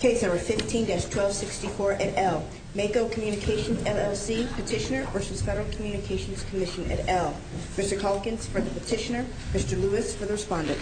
Case number 15-1264 et al. Mako Communications, LLC Petitioner v. Federal Communications Commission et al. Mr. Calkins for the petitioner, Mr. Lewis for the respondent.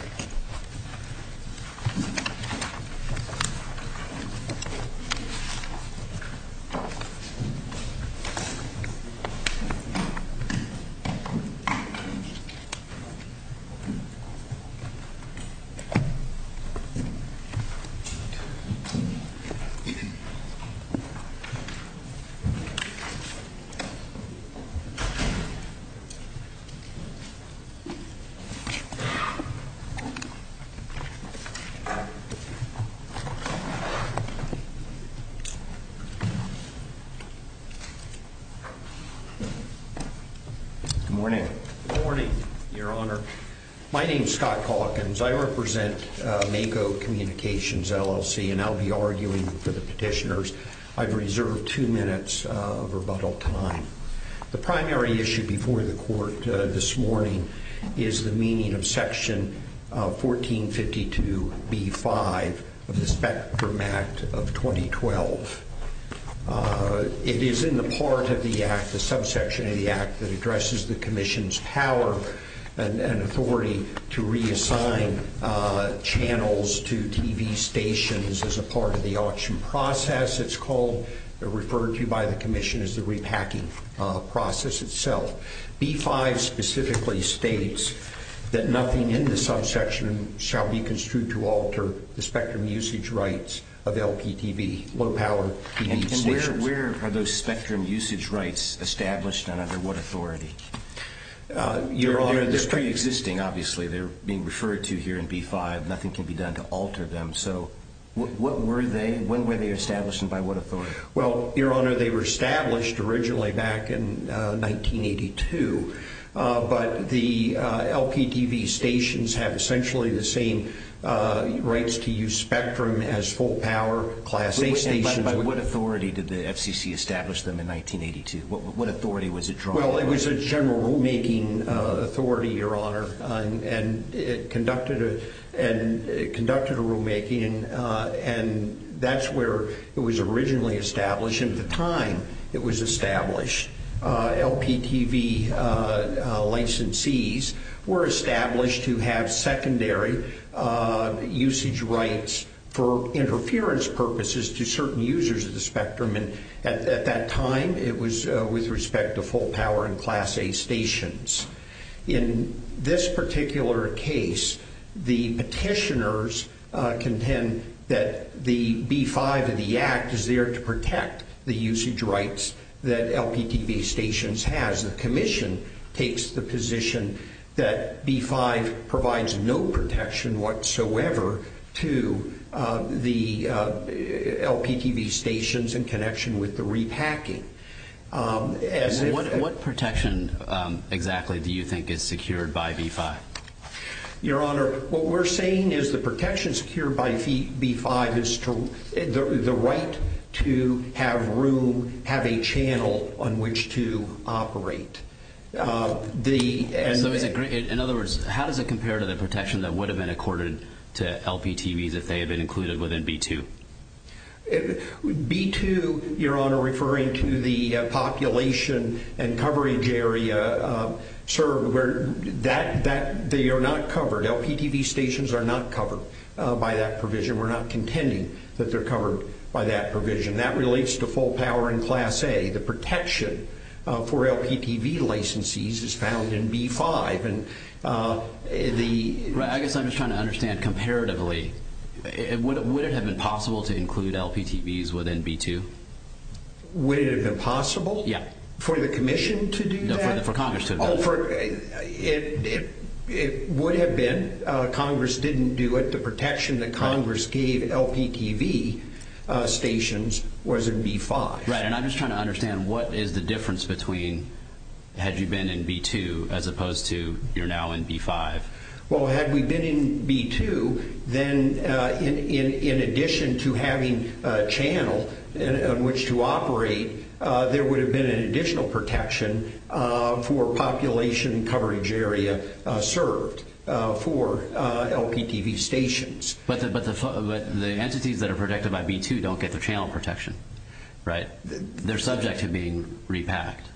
Good morning. Good morning, Your Honor. My name is Scott Calkins. I represent Mako Communications, LLC, and I'll be arguing for the petitioners. I've reserved two minutes of rebuttal time. The primary issue before the court this morning is the meaning of Section 1452b-5 of the Spectrum Act of 2012. It is in the part of the Act, the subsection of the Act, that addresses the Commission's power and authority to reassign channels to TV stations as a part of the auction process. It's called, referred to by the Commission as the repacking process itself. B-5 specifically states that nothing in the subsection shall be construed to alter the spectrum usage rights of LPTV, low-power TV stations. And where are those spectrum usage rights established, and under what authority? Your Honor, they're pre-existing, obviously. They're being referred to here in B-5. Nothing can be done to alter them. So when were they established, and by what authority? Well, Your Honor, they were established originally back in 1982, but the LPTV stations have essentially the same rights to use spectrum as full-power class A stations. By what authority did the FCC establish them in 1982? What authority was it drawn by? Well, it was a general rulemaking authority, Your Honor, and it conducted a rulemaking, and that's where it was originally established. And at the time it was established, LPTV licensees were established to have secondary usage rights for interference purposes to certain users of the spectrum. And at that time, it was with respect to full-power and class A stations. In this particular case, the petitioners contend that the B-5 of the Act is there to protect the usage rights that LPTV stations has. The commission takes the position that B-5 provides no protection whatsoever to the LPTV stations in connection with the repacking. What protection exactly do you think is secured by B-5? Your Honor, what we're saying is the protection secured by B-5 is the right to have room, have a channel on which to operate. In other words, how does it compare to the protection that would have been accorded to LPTVs if they had been included within B-2? B-2, Your Honor, referring to the population and coverage area, sir, they are not covered. LPTV stations are not covered by that provision. We're not contending that they're covered by that provision. That relates to full-power and class A. The protection for LPTV licensees is found in B-5. I guess I'm just trying to understand comparatively. Would it have been possible to include LPTVs within B-2? Would it have been possible for the commission to do that? No, for Congress to have done that. It would have been. Congress didn't do it. The protection that Congress gave LPTV stations was in B-5. Right, and I'm just trying to understand what is the difference between had you been in B-2 as opposed to you're now in B-5? Well, had we been in B-2, then in addition to having a channel on which to operate, there would have been an additional protection for population and coverage area served for LPTV stations. But the entities that are protected by B-2 don't get the channel protection, right? They're subject to being repacked.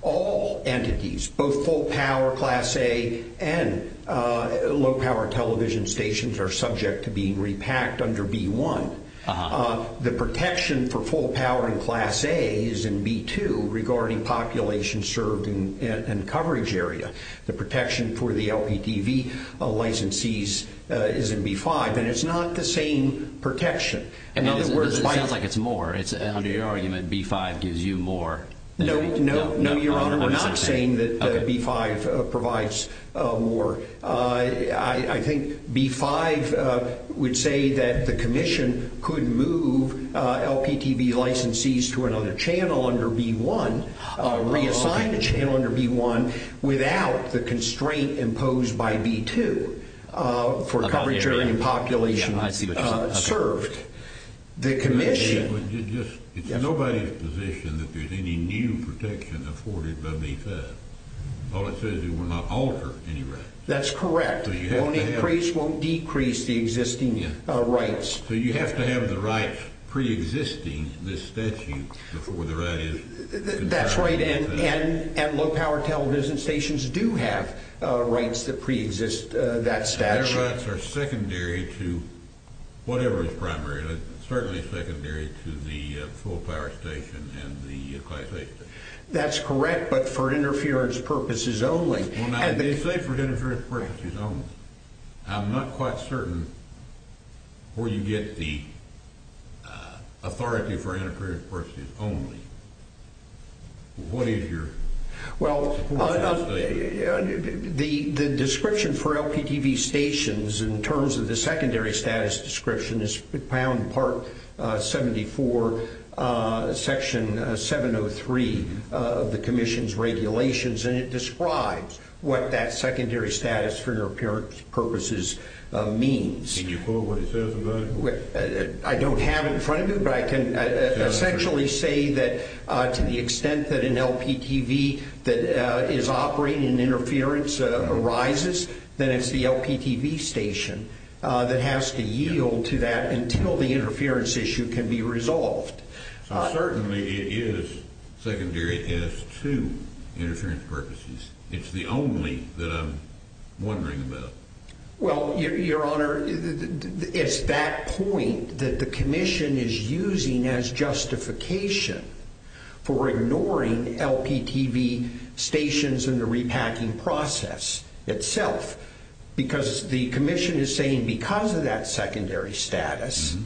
All entities, both full-power, class A, and low-power television stations are subject to being repacked under B-1. The protection for full-power and class A is in B-2 regarding population served and coverage area. The protection for the LPTV licensees is in B-5, and it's not the same protection. It sounds like it's more. Under your argument, B-5 gives you more. No, Your Honor, we're not saying that B-5 provides more. I think B-5 would say that the commission could move LPTV licensees to another channel under B-1, reassign a channel under B-1 without the constraint imposed by B-2 for coverage area and population served. It's nobody's position that there's any new protection afforded by B-5. All it says is it will not alter any rights. That's correct. It won't decrease the existing rights. So you have to have the rights preexisting this statute before the right is conferred. That's right, and low-power television stations do have rights that preexist that statute. Their rights are secondary to whatever is primary, certainly secondary to the full-power station and the class A station. That's correct, but for interference purposes only. Well, now, they say for interference purposes only. I'm not quite certain where you get the authority for interference purposes only. What is your— Well, the description for LPTV stations in terms of the secondary status description is found in Part 74, Section 703 of the commission's regulations, and it describes what that secondary status for interference purposes means. Can you quote what it says about it? I don't have it in front of me, but I can essentially say that to the extent that an LPTV that is operating interference arises, then it's the LPTV station that has to yield to that until the interference issue can be resolved. Certainly, it is secondary to interference purposes. It's the only that I'm wondering about. Well, Your Honor, it's that point that the commission is using as justification for ignoring LPTV stations and the repacking process itself because the commission is saying because of that secondary status,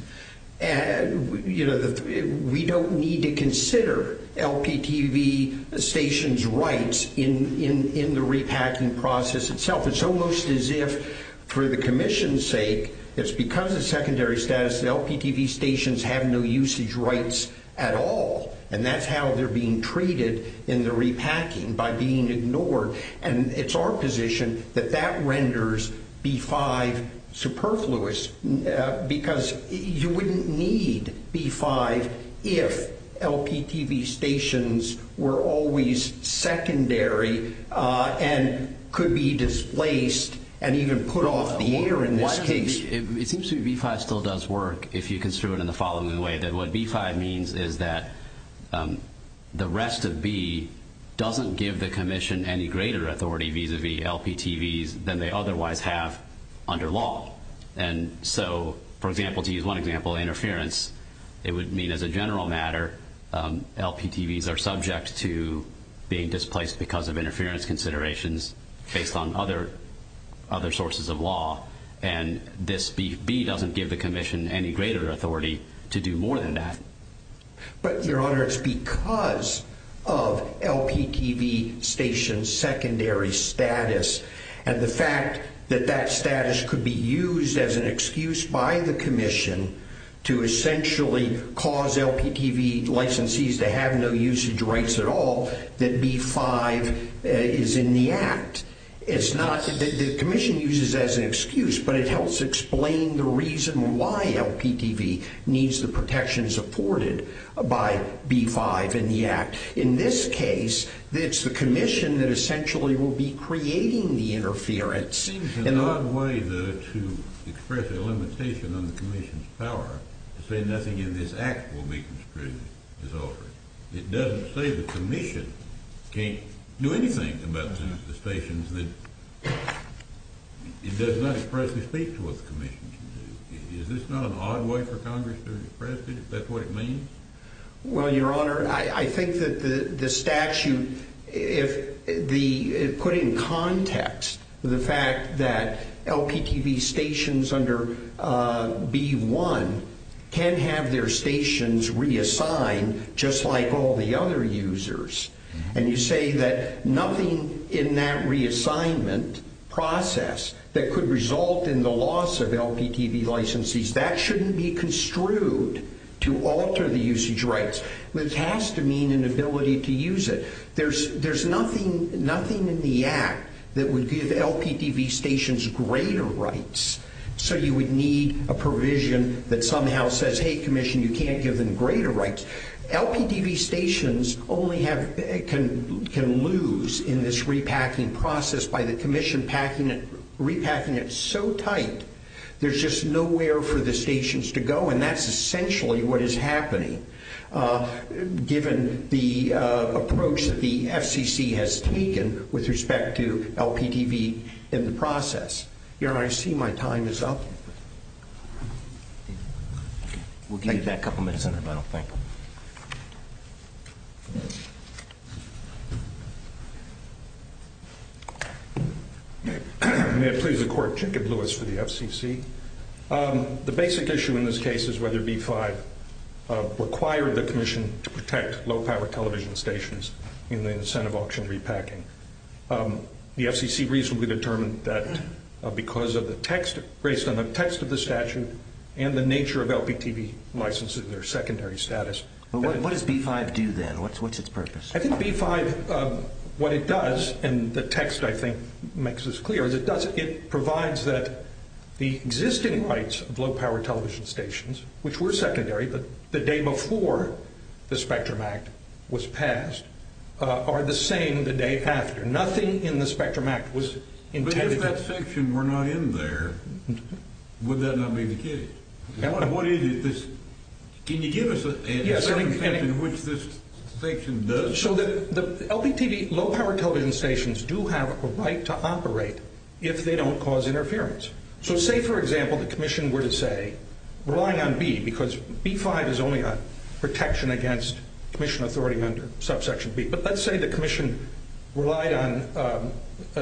we don't need to consider LPTV stations' rights in the repacking process itself. It's almost as if for the commission's sake, it's because of secondary status, the LPTV stations have no usage rights at all, and that's how they're being treated in the repacking, by being ignored. And it's our position that that renders B-5 superfluous because you wouldn't need B-5 if LPTV stations were always secondary and could be displaced and even put off the air in this case. It seems to me B-5 still does work if you construe it in the following way, that what B-5 means is that the rest of B doesn't give the commission any greater authority vis-a-vis LPTVs than they otherwise have under law. And so, for example, to use one example, interference, it would mean as a general matter, LPTVs are subject to being displaced because of interference considerations based on other sources of law, and this B doesn't give the commission any greater authority to do more than that. But, your honor, it's because of LPTV stations' secondary status and the fact that that status could be used as an excuse by the commission to essentially cause LPTV licensees to have no usage rights at all, that B-5 is in the act. It's not, the commission uses it as an excuse, but it helps explain the reason why LPTV needs the protection supported by B-5 in the act. In this case, it's the commission that essentially will be creating the interference. It seems an odd way, though, to express a limitation on the commission's power to say nothing in this act will be construed as altering. It doesn't say the commission can't do anything about the stations. It does not expressly speak to what the commission can do. Is this not an odd way for Congress to express it, if that's what it means? Well, your honor, I think that the statute put in context the fact that LPTV stations under B-1 can have their stations reassigned just like all the other users. And you say that nothing in that reassignment process that could result in the loss of LPTV licensees, that shouldn't be construed to alter the usage rights. This has to mean an ability to use it. There's nothing in the act that would give LPTV stations greater rights. So you would need a provision that somehow says, hey, commission, you can't give them greater rights. LPTV stations only can lose in this repacking process by the commission repacking it so tight there's just nowhere for the stations to go. And that's essentially what is happening, given the approach that the FCC has taken with respect to LPTV in the process. Your honor, I see my time is up. We'll give you that couple minutes in the middle, thank you. May it please the court, Jacob Lewis for the FCC. The basic issue in this case is whether B-5 required the commission to protect low power television stations in the incentive auction repacking. The FCC reasonably determined that because of the text, based on the text of the statute, and the nature of LPTV licenses, their secondary status. What does B-5 do then? What's its purpose? I think B-5, what it does, and the text I think makes this clear, is it provides that the existing rights of low power television stations, which were secondary the day before the Spectrum Act was passed, are the same the day after. Nothing in the Spectrum Act was intended. But if that section were not in there, would that not be the case? Can you give us a certain section in which this section doesn't? LPTV, low power television stations, do have a right to operate if they don't cause interference. So say, for example, the commission were to say, relying on B, because B-5 is only a protection against commission authority under subsection B, but let's say the commission relied on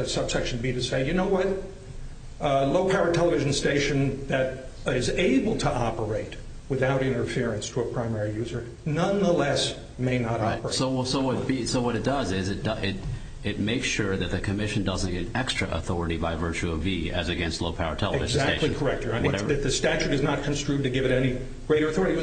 subsection B to say, you know what, a low power television station that is able to operate without interference to a primary user, nonetheless, may not operate. So what it does is it makes sure that the commission doesn't get extra authority by virtue of B as against low power television stations. Exactly correct. The statute is not construed to give it any greater authority.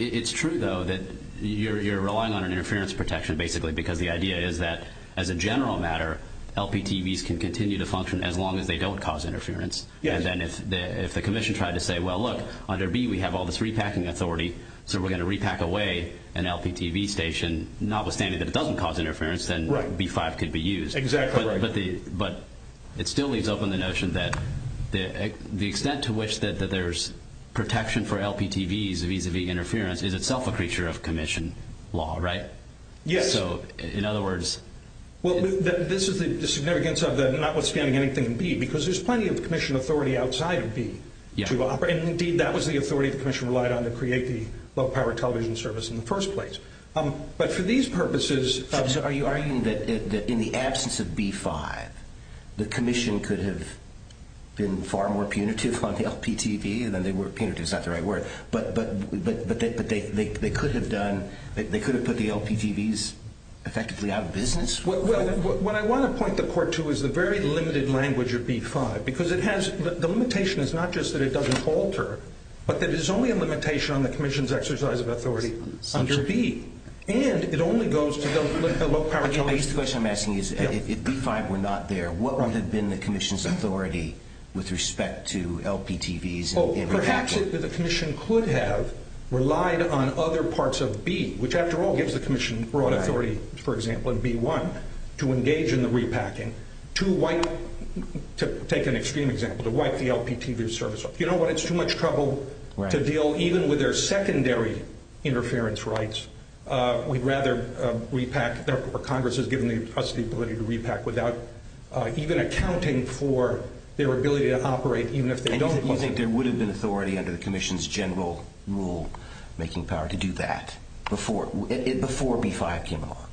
It's true, though, that you're relying on an interference protection, basically, because the idea is that, as a general matter, LPTVs can continue to function as long as they don't cause interference. And then if the commission tried to say, well, look, under B we have all this repacking authority, so we're going to repack away an LPTV station, notwithstanding that it doesn't cause interference, then B-5 could be used. Exactly right. But it still leaves open the notion that the extent to which that there's protection for LPTVs vis-à-vis interference is itself a creature of commission law, right? Yes. So, in other words... Well, this is the significance of the notwithstanding anything in B, because there's plenty of commission authority outside of B to operate. Indeed, that was the authority the commission relied on to create the low power television service in the first place. But for these purposes... So are you arguing that in the absence of B-5, the commission could have been far more punitive on the LPTV? Punitive is not the right word. But they could have put the LPTVs effectively out of business? Well, what I want to point the court to is the very limited language of B-5, because the limitation is not just that it doesn't alter, but that it's only a limitation on the commission's exercise of authority under B. And it only goes to the low power television. The question I'm asking is, if B-5 were not there, what would have been the commission's authority with respect to LPTVs? Well, perhaps the commission could have relied on other parts of B, which after all gives the commission broad authority, for example, in B-1, to engage in the repacking, to wipe, to take an extreme example, to wipe the LPTV service off. You know what, it's too much trouble to deal even with their secondary interference rights. We'd rather repack, or Congress has given us the ability to repack without even accounting for their ability to operate, even if they don't want to. Do you think there would have been authority under the commission's general rule making power to do that before B-5 came along?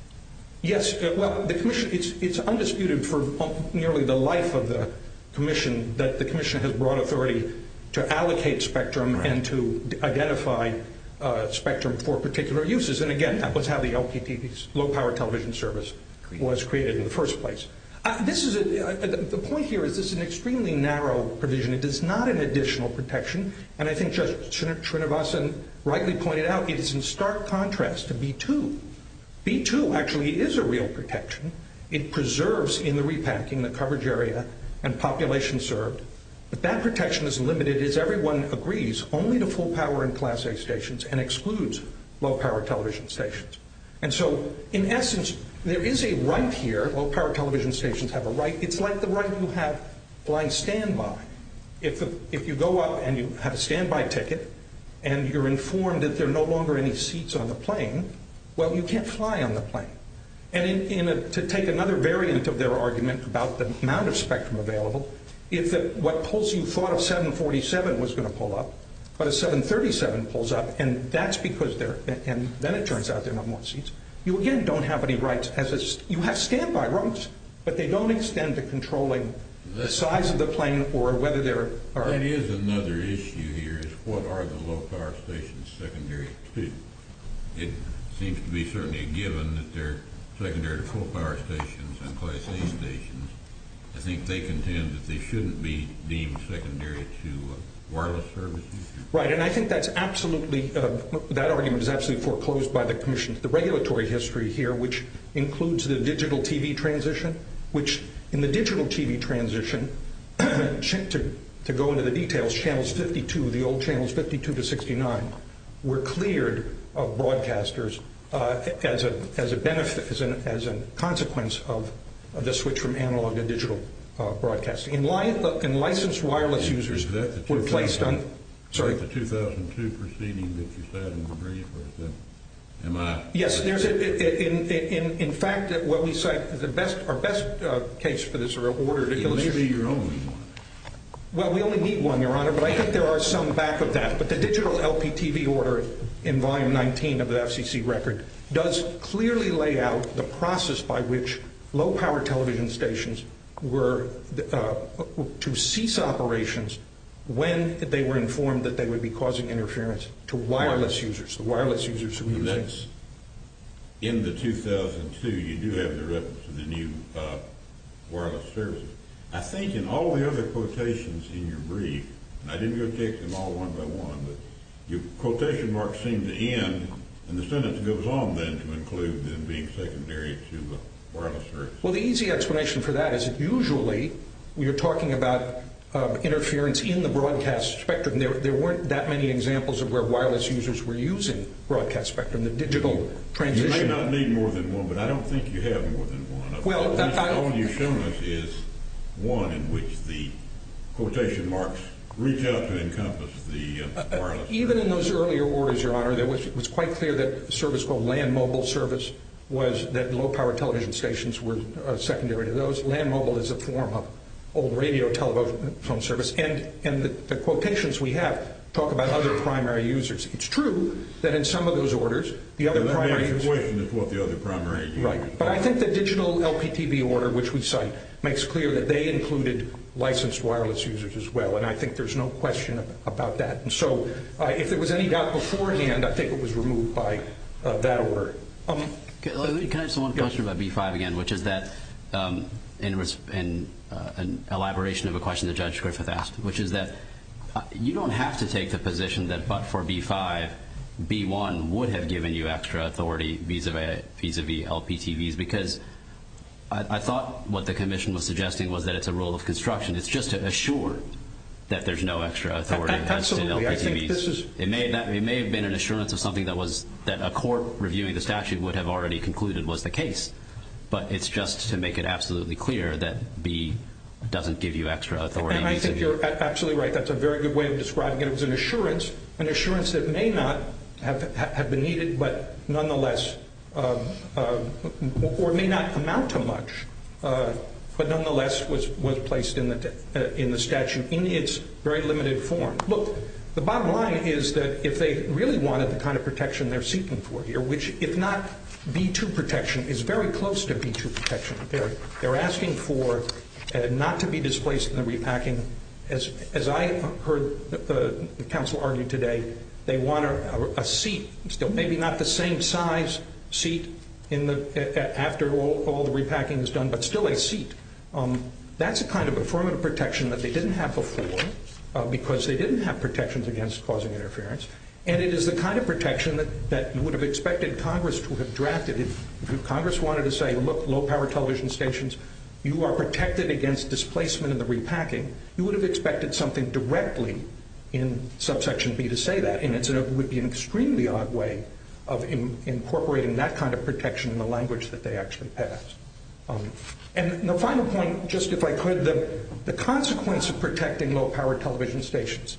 Yes. Well, the commission, it's undisputed for nearly the life of the commission that the commission has broad authority to allocate spectrum and to identify spectrum for particular uses. And again, that was how the LPTVs, low power television service, was created in the first place. The point here is this is an extremely narrow provision. It is not an additional protection. And I think Judge Srinivasan rightly pointed out it is in stark contrast to B-2. B-2 actually is a real protection. It preserves in the repacking the coverage area and population served. But that protection is limited as everyone agrees only to full power and class A stations and excludes low power television stations. And so, in essence, there is a right here. Low power television stations have a right. It's like the right you have flying standby. If you go up and you have a standby ticket and you're informed that there are no longer any seats on the plane, well, you can't fly on the plane. And to take another variant of their argument about the amount of spectrum available, if what you thought of 747 was going to pull up, but a 737 pulls up, and that's because there are no more seats, you again don't have any rights. You have standby rights, but they don't extend to controlling the size of the plane or whether there are… That is another issue here is what are the low power stations secondary to. It seems to be certainly a given that they're secondary to full power stations and class A stations. I think they contend that they shouldn't be deemed secondary to wireless services. Right, and I think that's absolutely, that argument is absolutely foreclosed by the Commission. The regulatory history here, which includes the digital TV transition, which in the digital TV transition, to go into the details, channels 52, the old channels 52 to 69, were cleared of broadcasters as a benefit, as a consequence of the switch from analog to digital broadcasting. And licensed wireless users were placed on… Is that the 2002 proceeding that you said in the brief? Yes, in fact, what we cite, our best case for this are ordered… It may be your only one. Well, we only need one, Your Honor, but I think there are some back of that. But the digital LP TV order in volume 19 of the FCC record does clearly lay out the process by which low power television stations were to cease operations when they were informed that they would be causing interference to wireless users, the wireless users who use this. In the 2002, you do have the reference to the new wireless services. I think in all the other quotations in your brief, and I didn't go through them all one by one, but your quotation marks seem to end, and the sentence goes on then to include them being secondary to the wireless service. Well, the easy explanation for that is that usually we are talking about interference in the broadcast spectrum. There weren't that many examples of where wireless users were using broadcast spectrum, the digital transition. You may not need more than one, but I don't think you have more than one. The one you've shown us is one in which the quotation marks reach out to encompass the wireless service. Even in those earlier orders, Your Honor, it was quite clear that a service called land mobile service was that low power television stations were secondary to those. Land mobile is a form of old radio telephone service, and the quotations we have talk about other primary users. It's true that in some of those orders, the other primary users... The only explanation is what the other primary users are. You're right, but I think the digital LPTV order, which we cite, makes clear that they included licensed wireless users as well, and I think there's no question about that. And so if there was any doubt before in the end, I think it was removed by that order. Can I ask one question about B-5 again, which is that in elaboration of a question that Judge Griffith asked, which is that you don't have to take the position that but for B-5, B-1 would have given you extra authority vis-a-vis LPTVs, because I thought what the commission was suggesting was that it's a rule of construction. It's just to assure that there's no extra authority as to LPTVs. It may have been an assurance of something that a court reviewing the statute would have already concluded was the case, but it's just to make it absolutely clear that B doesn't give you extra authority. I think you're absolutely right. That's a very good way of describing it. It was an assurance, an assurance that may not have been needed, but nonetheless or may not amount to much, but nonetheless was placed in the statute in its very limited form. Look, the bottom line is that if they really wanted the kind of protection they're seeking for here, which if not B-2 protection is very close to B-2 protection. They're asking for not to be displaced in the repacking. As I heard the counsel argue today, they want a seat, still maybe not the same size seat after all the repacking is done, but still a seat. That's a kind of affirmative protection that they didn't have before, because they didn't have protections against causing interference, and it is the kind of protection that you would have expected Congress to have drafted. If Congress wanted to say, look, low-power television stations, you are protected against displacement in the repacking, you would have expected something directly in subsection B to say that, and it would be an extremely odd way of incorporating that kind of protection in the language that they actually passed. And the final point, just if I could, the consequence of protecting low-power television stations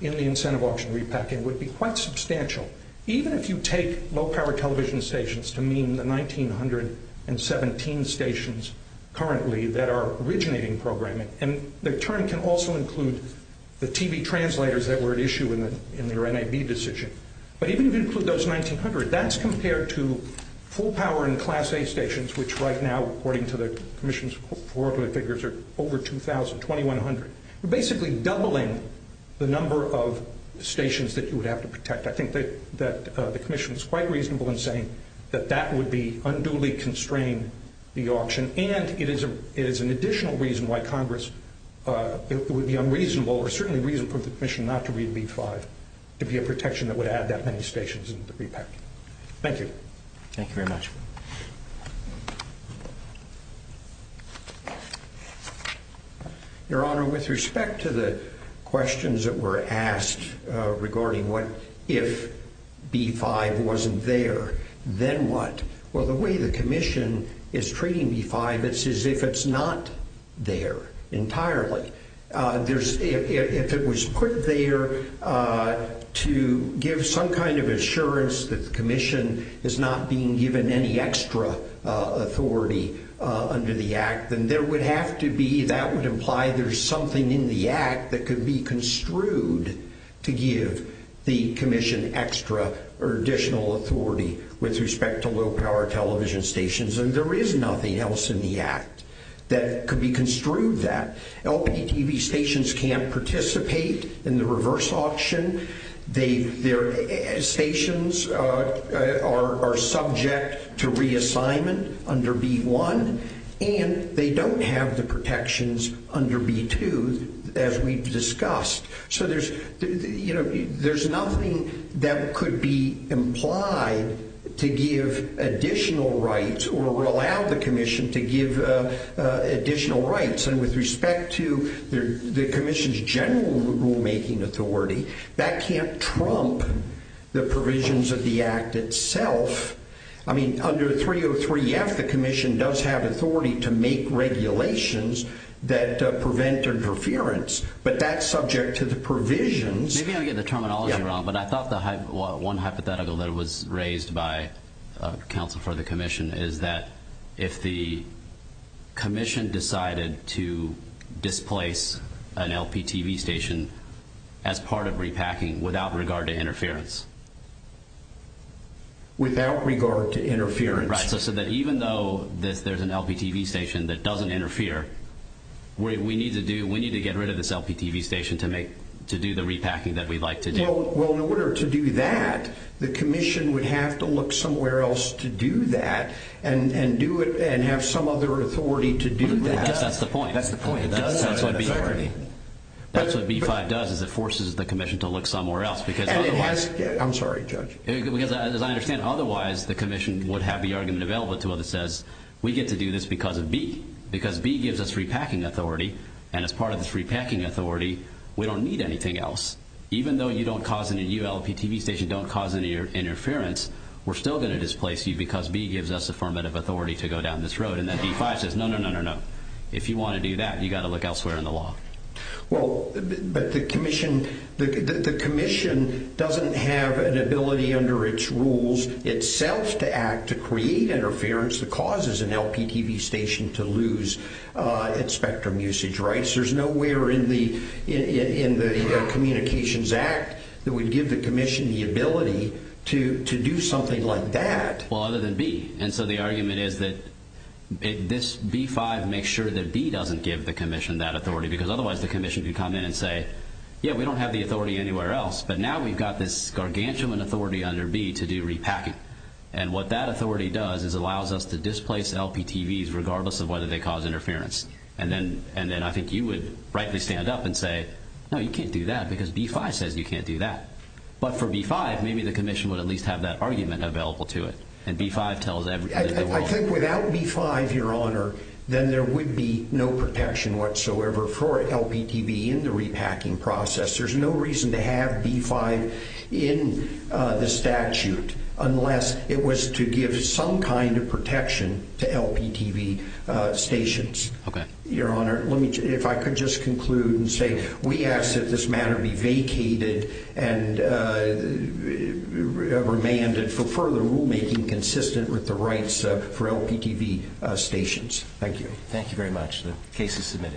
in the incentive auction repacking would be quite substantial. Even if you take low-power television stations to mean the 1,917 stations currently that are originating programming, and the term can also include the TV translators that were at issue in their NAB decision, but even if you include those 1,900, that's compared to full-power and Class A stations, which right now according to the Commission's foregoing figures are over 2,000, 2,100. We're basically doubling the number of stations that you would have to protect. I think that the Commission is quite reasonable in saying that that would unduly constrain the auction, and it is an additional reason why Congress would be unreasonable or certainly reason for the Commission not to read B-5 to be a protection that would add that many stations in the repack. Thank you. Thank you very much. Your Honor, with respect to the questions that were asked regarding what if B-5 wasn't there, then what? Well, the way the Commission is treating B-5, it's as if it's not there entirely. If it was put there to give some kind of assurance that the Commission is not being given any extra authority under the Act, then that would imply there's something in the Act that could be construed to give the Commission extra or additional authority with respect to low-power television stations, and there is nothing else in the Act that could be construed that. LPTV stations can't participate in the reverse auction. Their stations are subject to reassignment under B-1, and they don't have the protections under B-2, as we've discussed. So there's nothing that could be implied to give additional rights or allow the Commission to give additional rights. And with respect to the Commission's general rulemaking authority, that can't trump the provisions of the Act itself. I mean, under 303-F, the Commission does have authority to make regulations that prevent interference, but that's subject to the provisions. Maybe I'm getting the terminology wrong, but I thought the one hypothetical that was raised by counsel for the Commission is that if the Commission decided to displace an LPTV station as part of repacking without regard to interference. Without regard to interference. Right, so even though there's an LPTV station that doesn't interfere, we need to get rid of this LPTV station to do the repacking that we'd like to do. Well, in order to do that, the Commission would have to look somewhere else to do that and have some other authority to do that. I guess that's the point. That's the point. That's what B-5 does, is it forces the Commission to look somewhere else. I'm sorry, Judge. Because as I understand, otherwise the Commission would have the argument available to it that says we get to do this because of B. Because B gives us repacking authority, and as part of this repacking authority, we don't need anything else. Even though you LPTV station don't cause any interference, we're still going to displace you because B gives us affirmative authority to go down this road. And then B-5 says, no, no, no, no, no. If you want to do that, you've got to look elsewhere in the law. Well, but the Commission doesn't have an ability under its rules itself to act to create interference that causes an LPTV station to lose its spectrum usage rights. There's nowhere in the Communications Act that would give the Commission the ability to do something like that. Well, other than B. And so the argument is that this B-5 makes sure that B doesn't give the Commission that authority. Because otherwise the Commission could come in and say, yeah, we don't have the authority anywhere else. But now we've got this gargantuan authority under B to do repacking. And what that authority does is allows us to displace LPTVs regardless of whether they cause interference. And then I think you would rightly stand up and say, no, you can't do that because B-5 says you can't do that. But for B-5, maybe the Commission would at least have that argument available to it. And B-5 tells everybody. I think without B-5, Your Honor, then there would be no protection whatsoever for LPTV in the repacking process. There's no reason to have B-5 in the statute unless it was to give some kind of protection to LPTV stations. Your Honor, if I could just conclude and say we ask that this matter be vacated and remanded for further rulemaking consistent with the rights for LPTV stations. Thank you. Thank you very much. The case is submitted.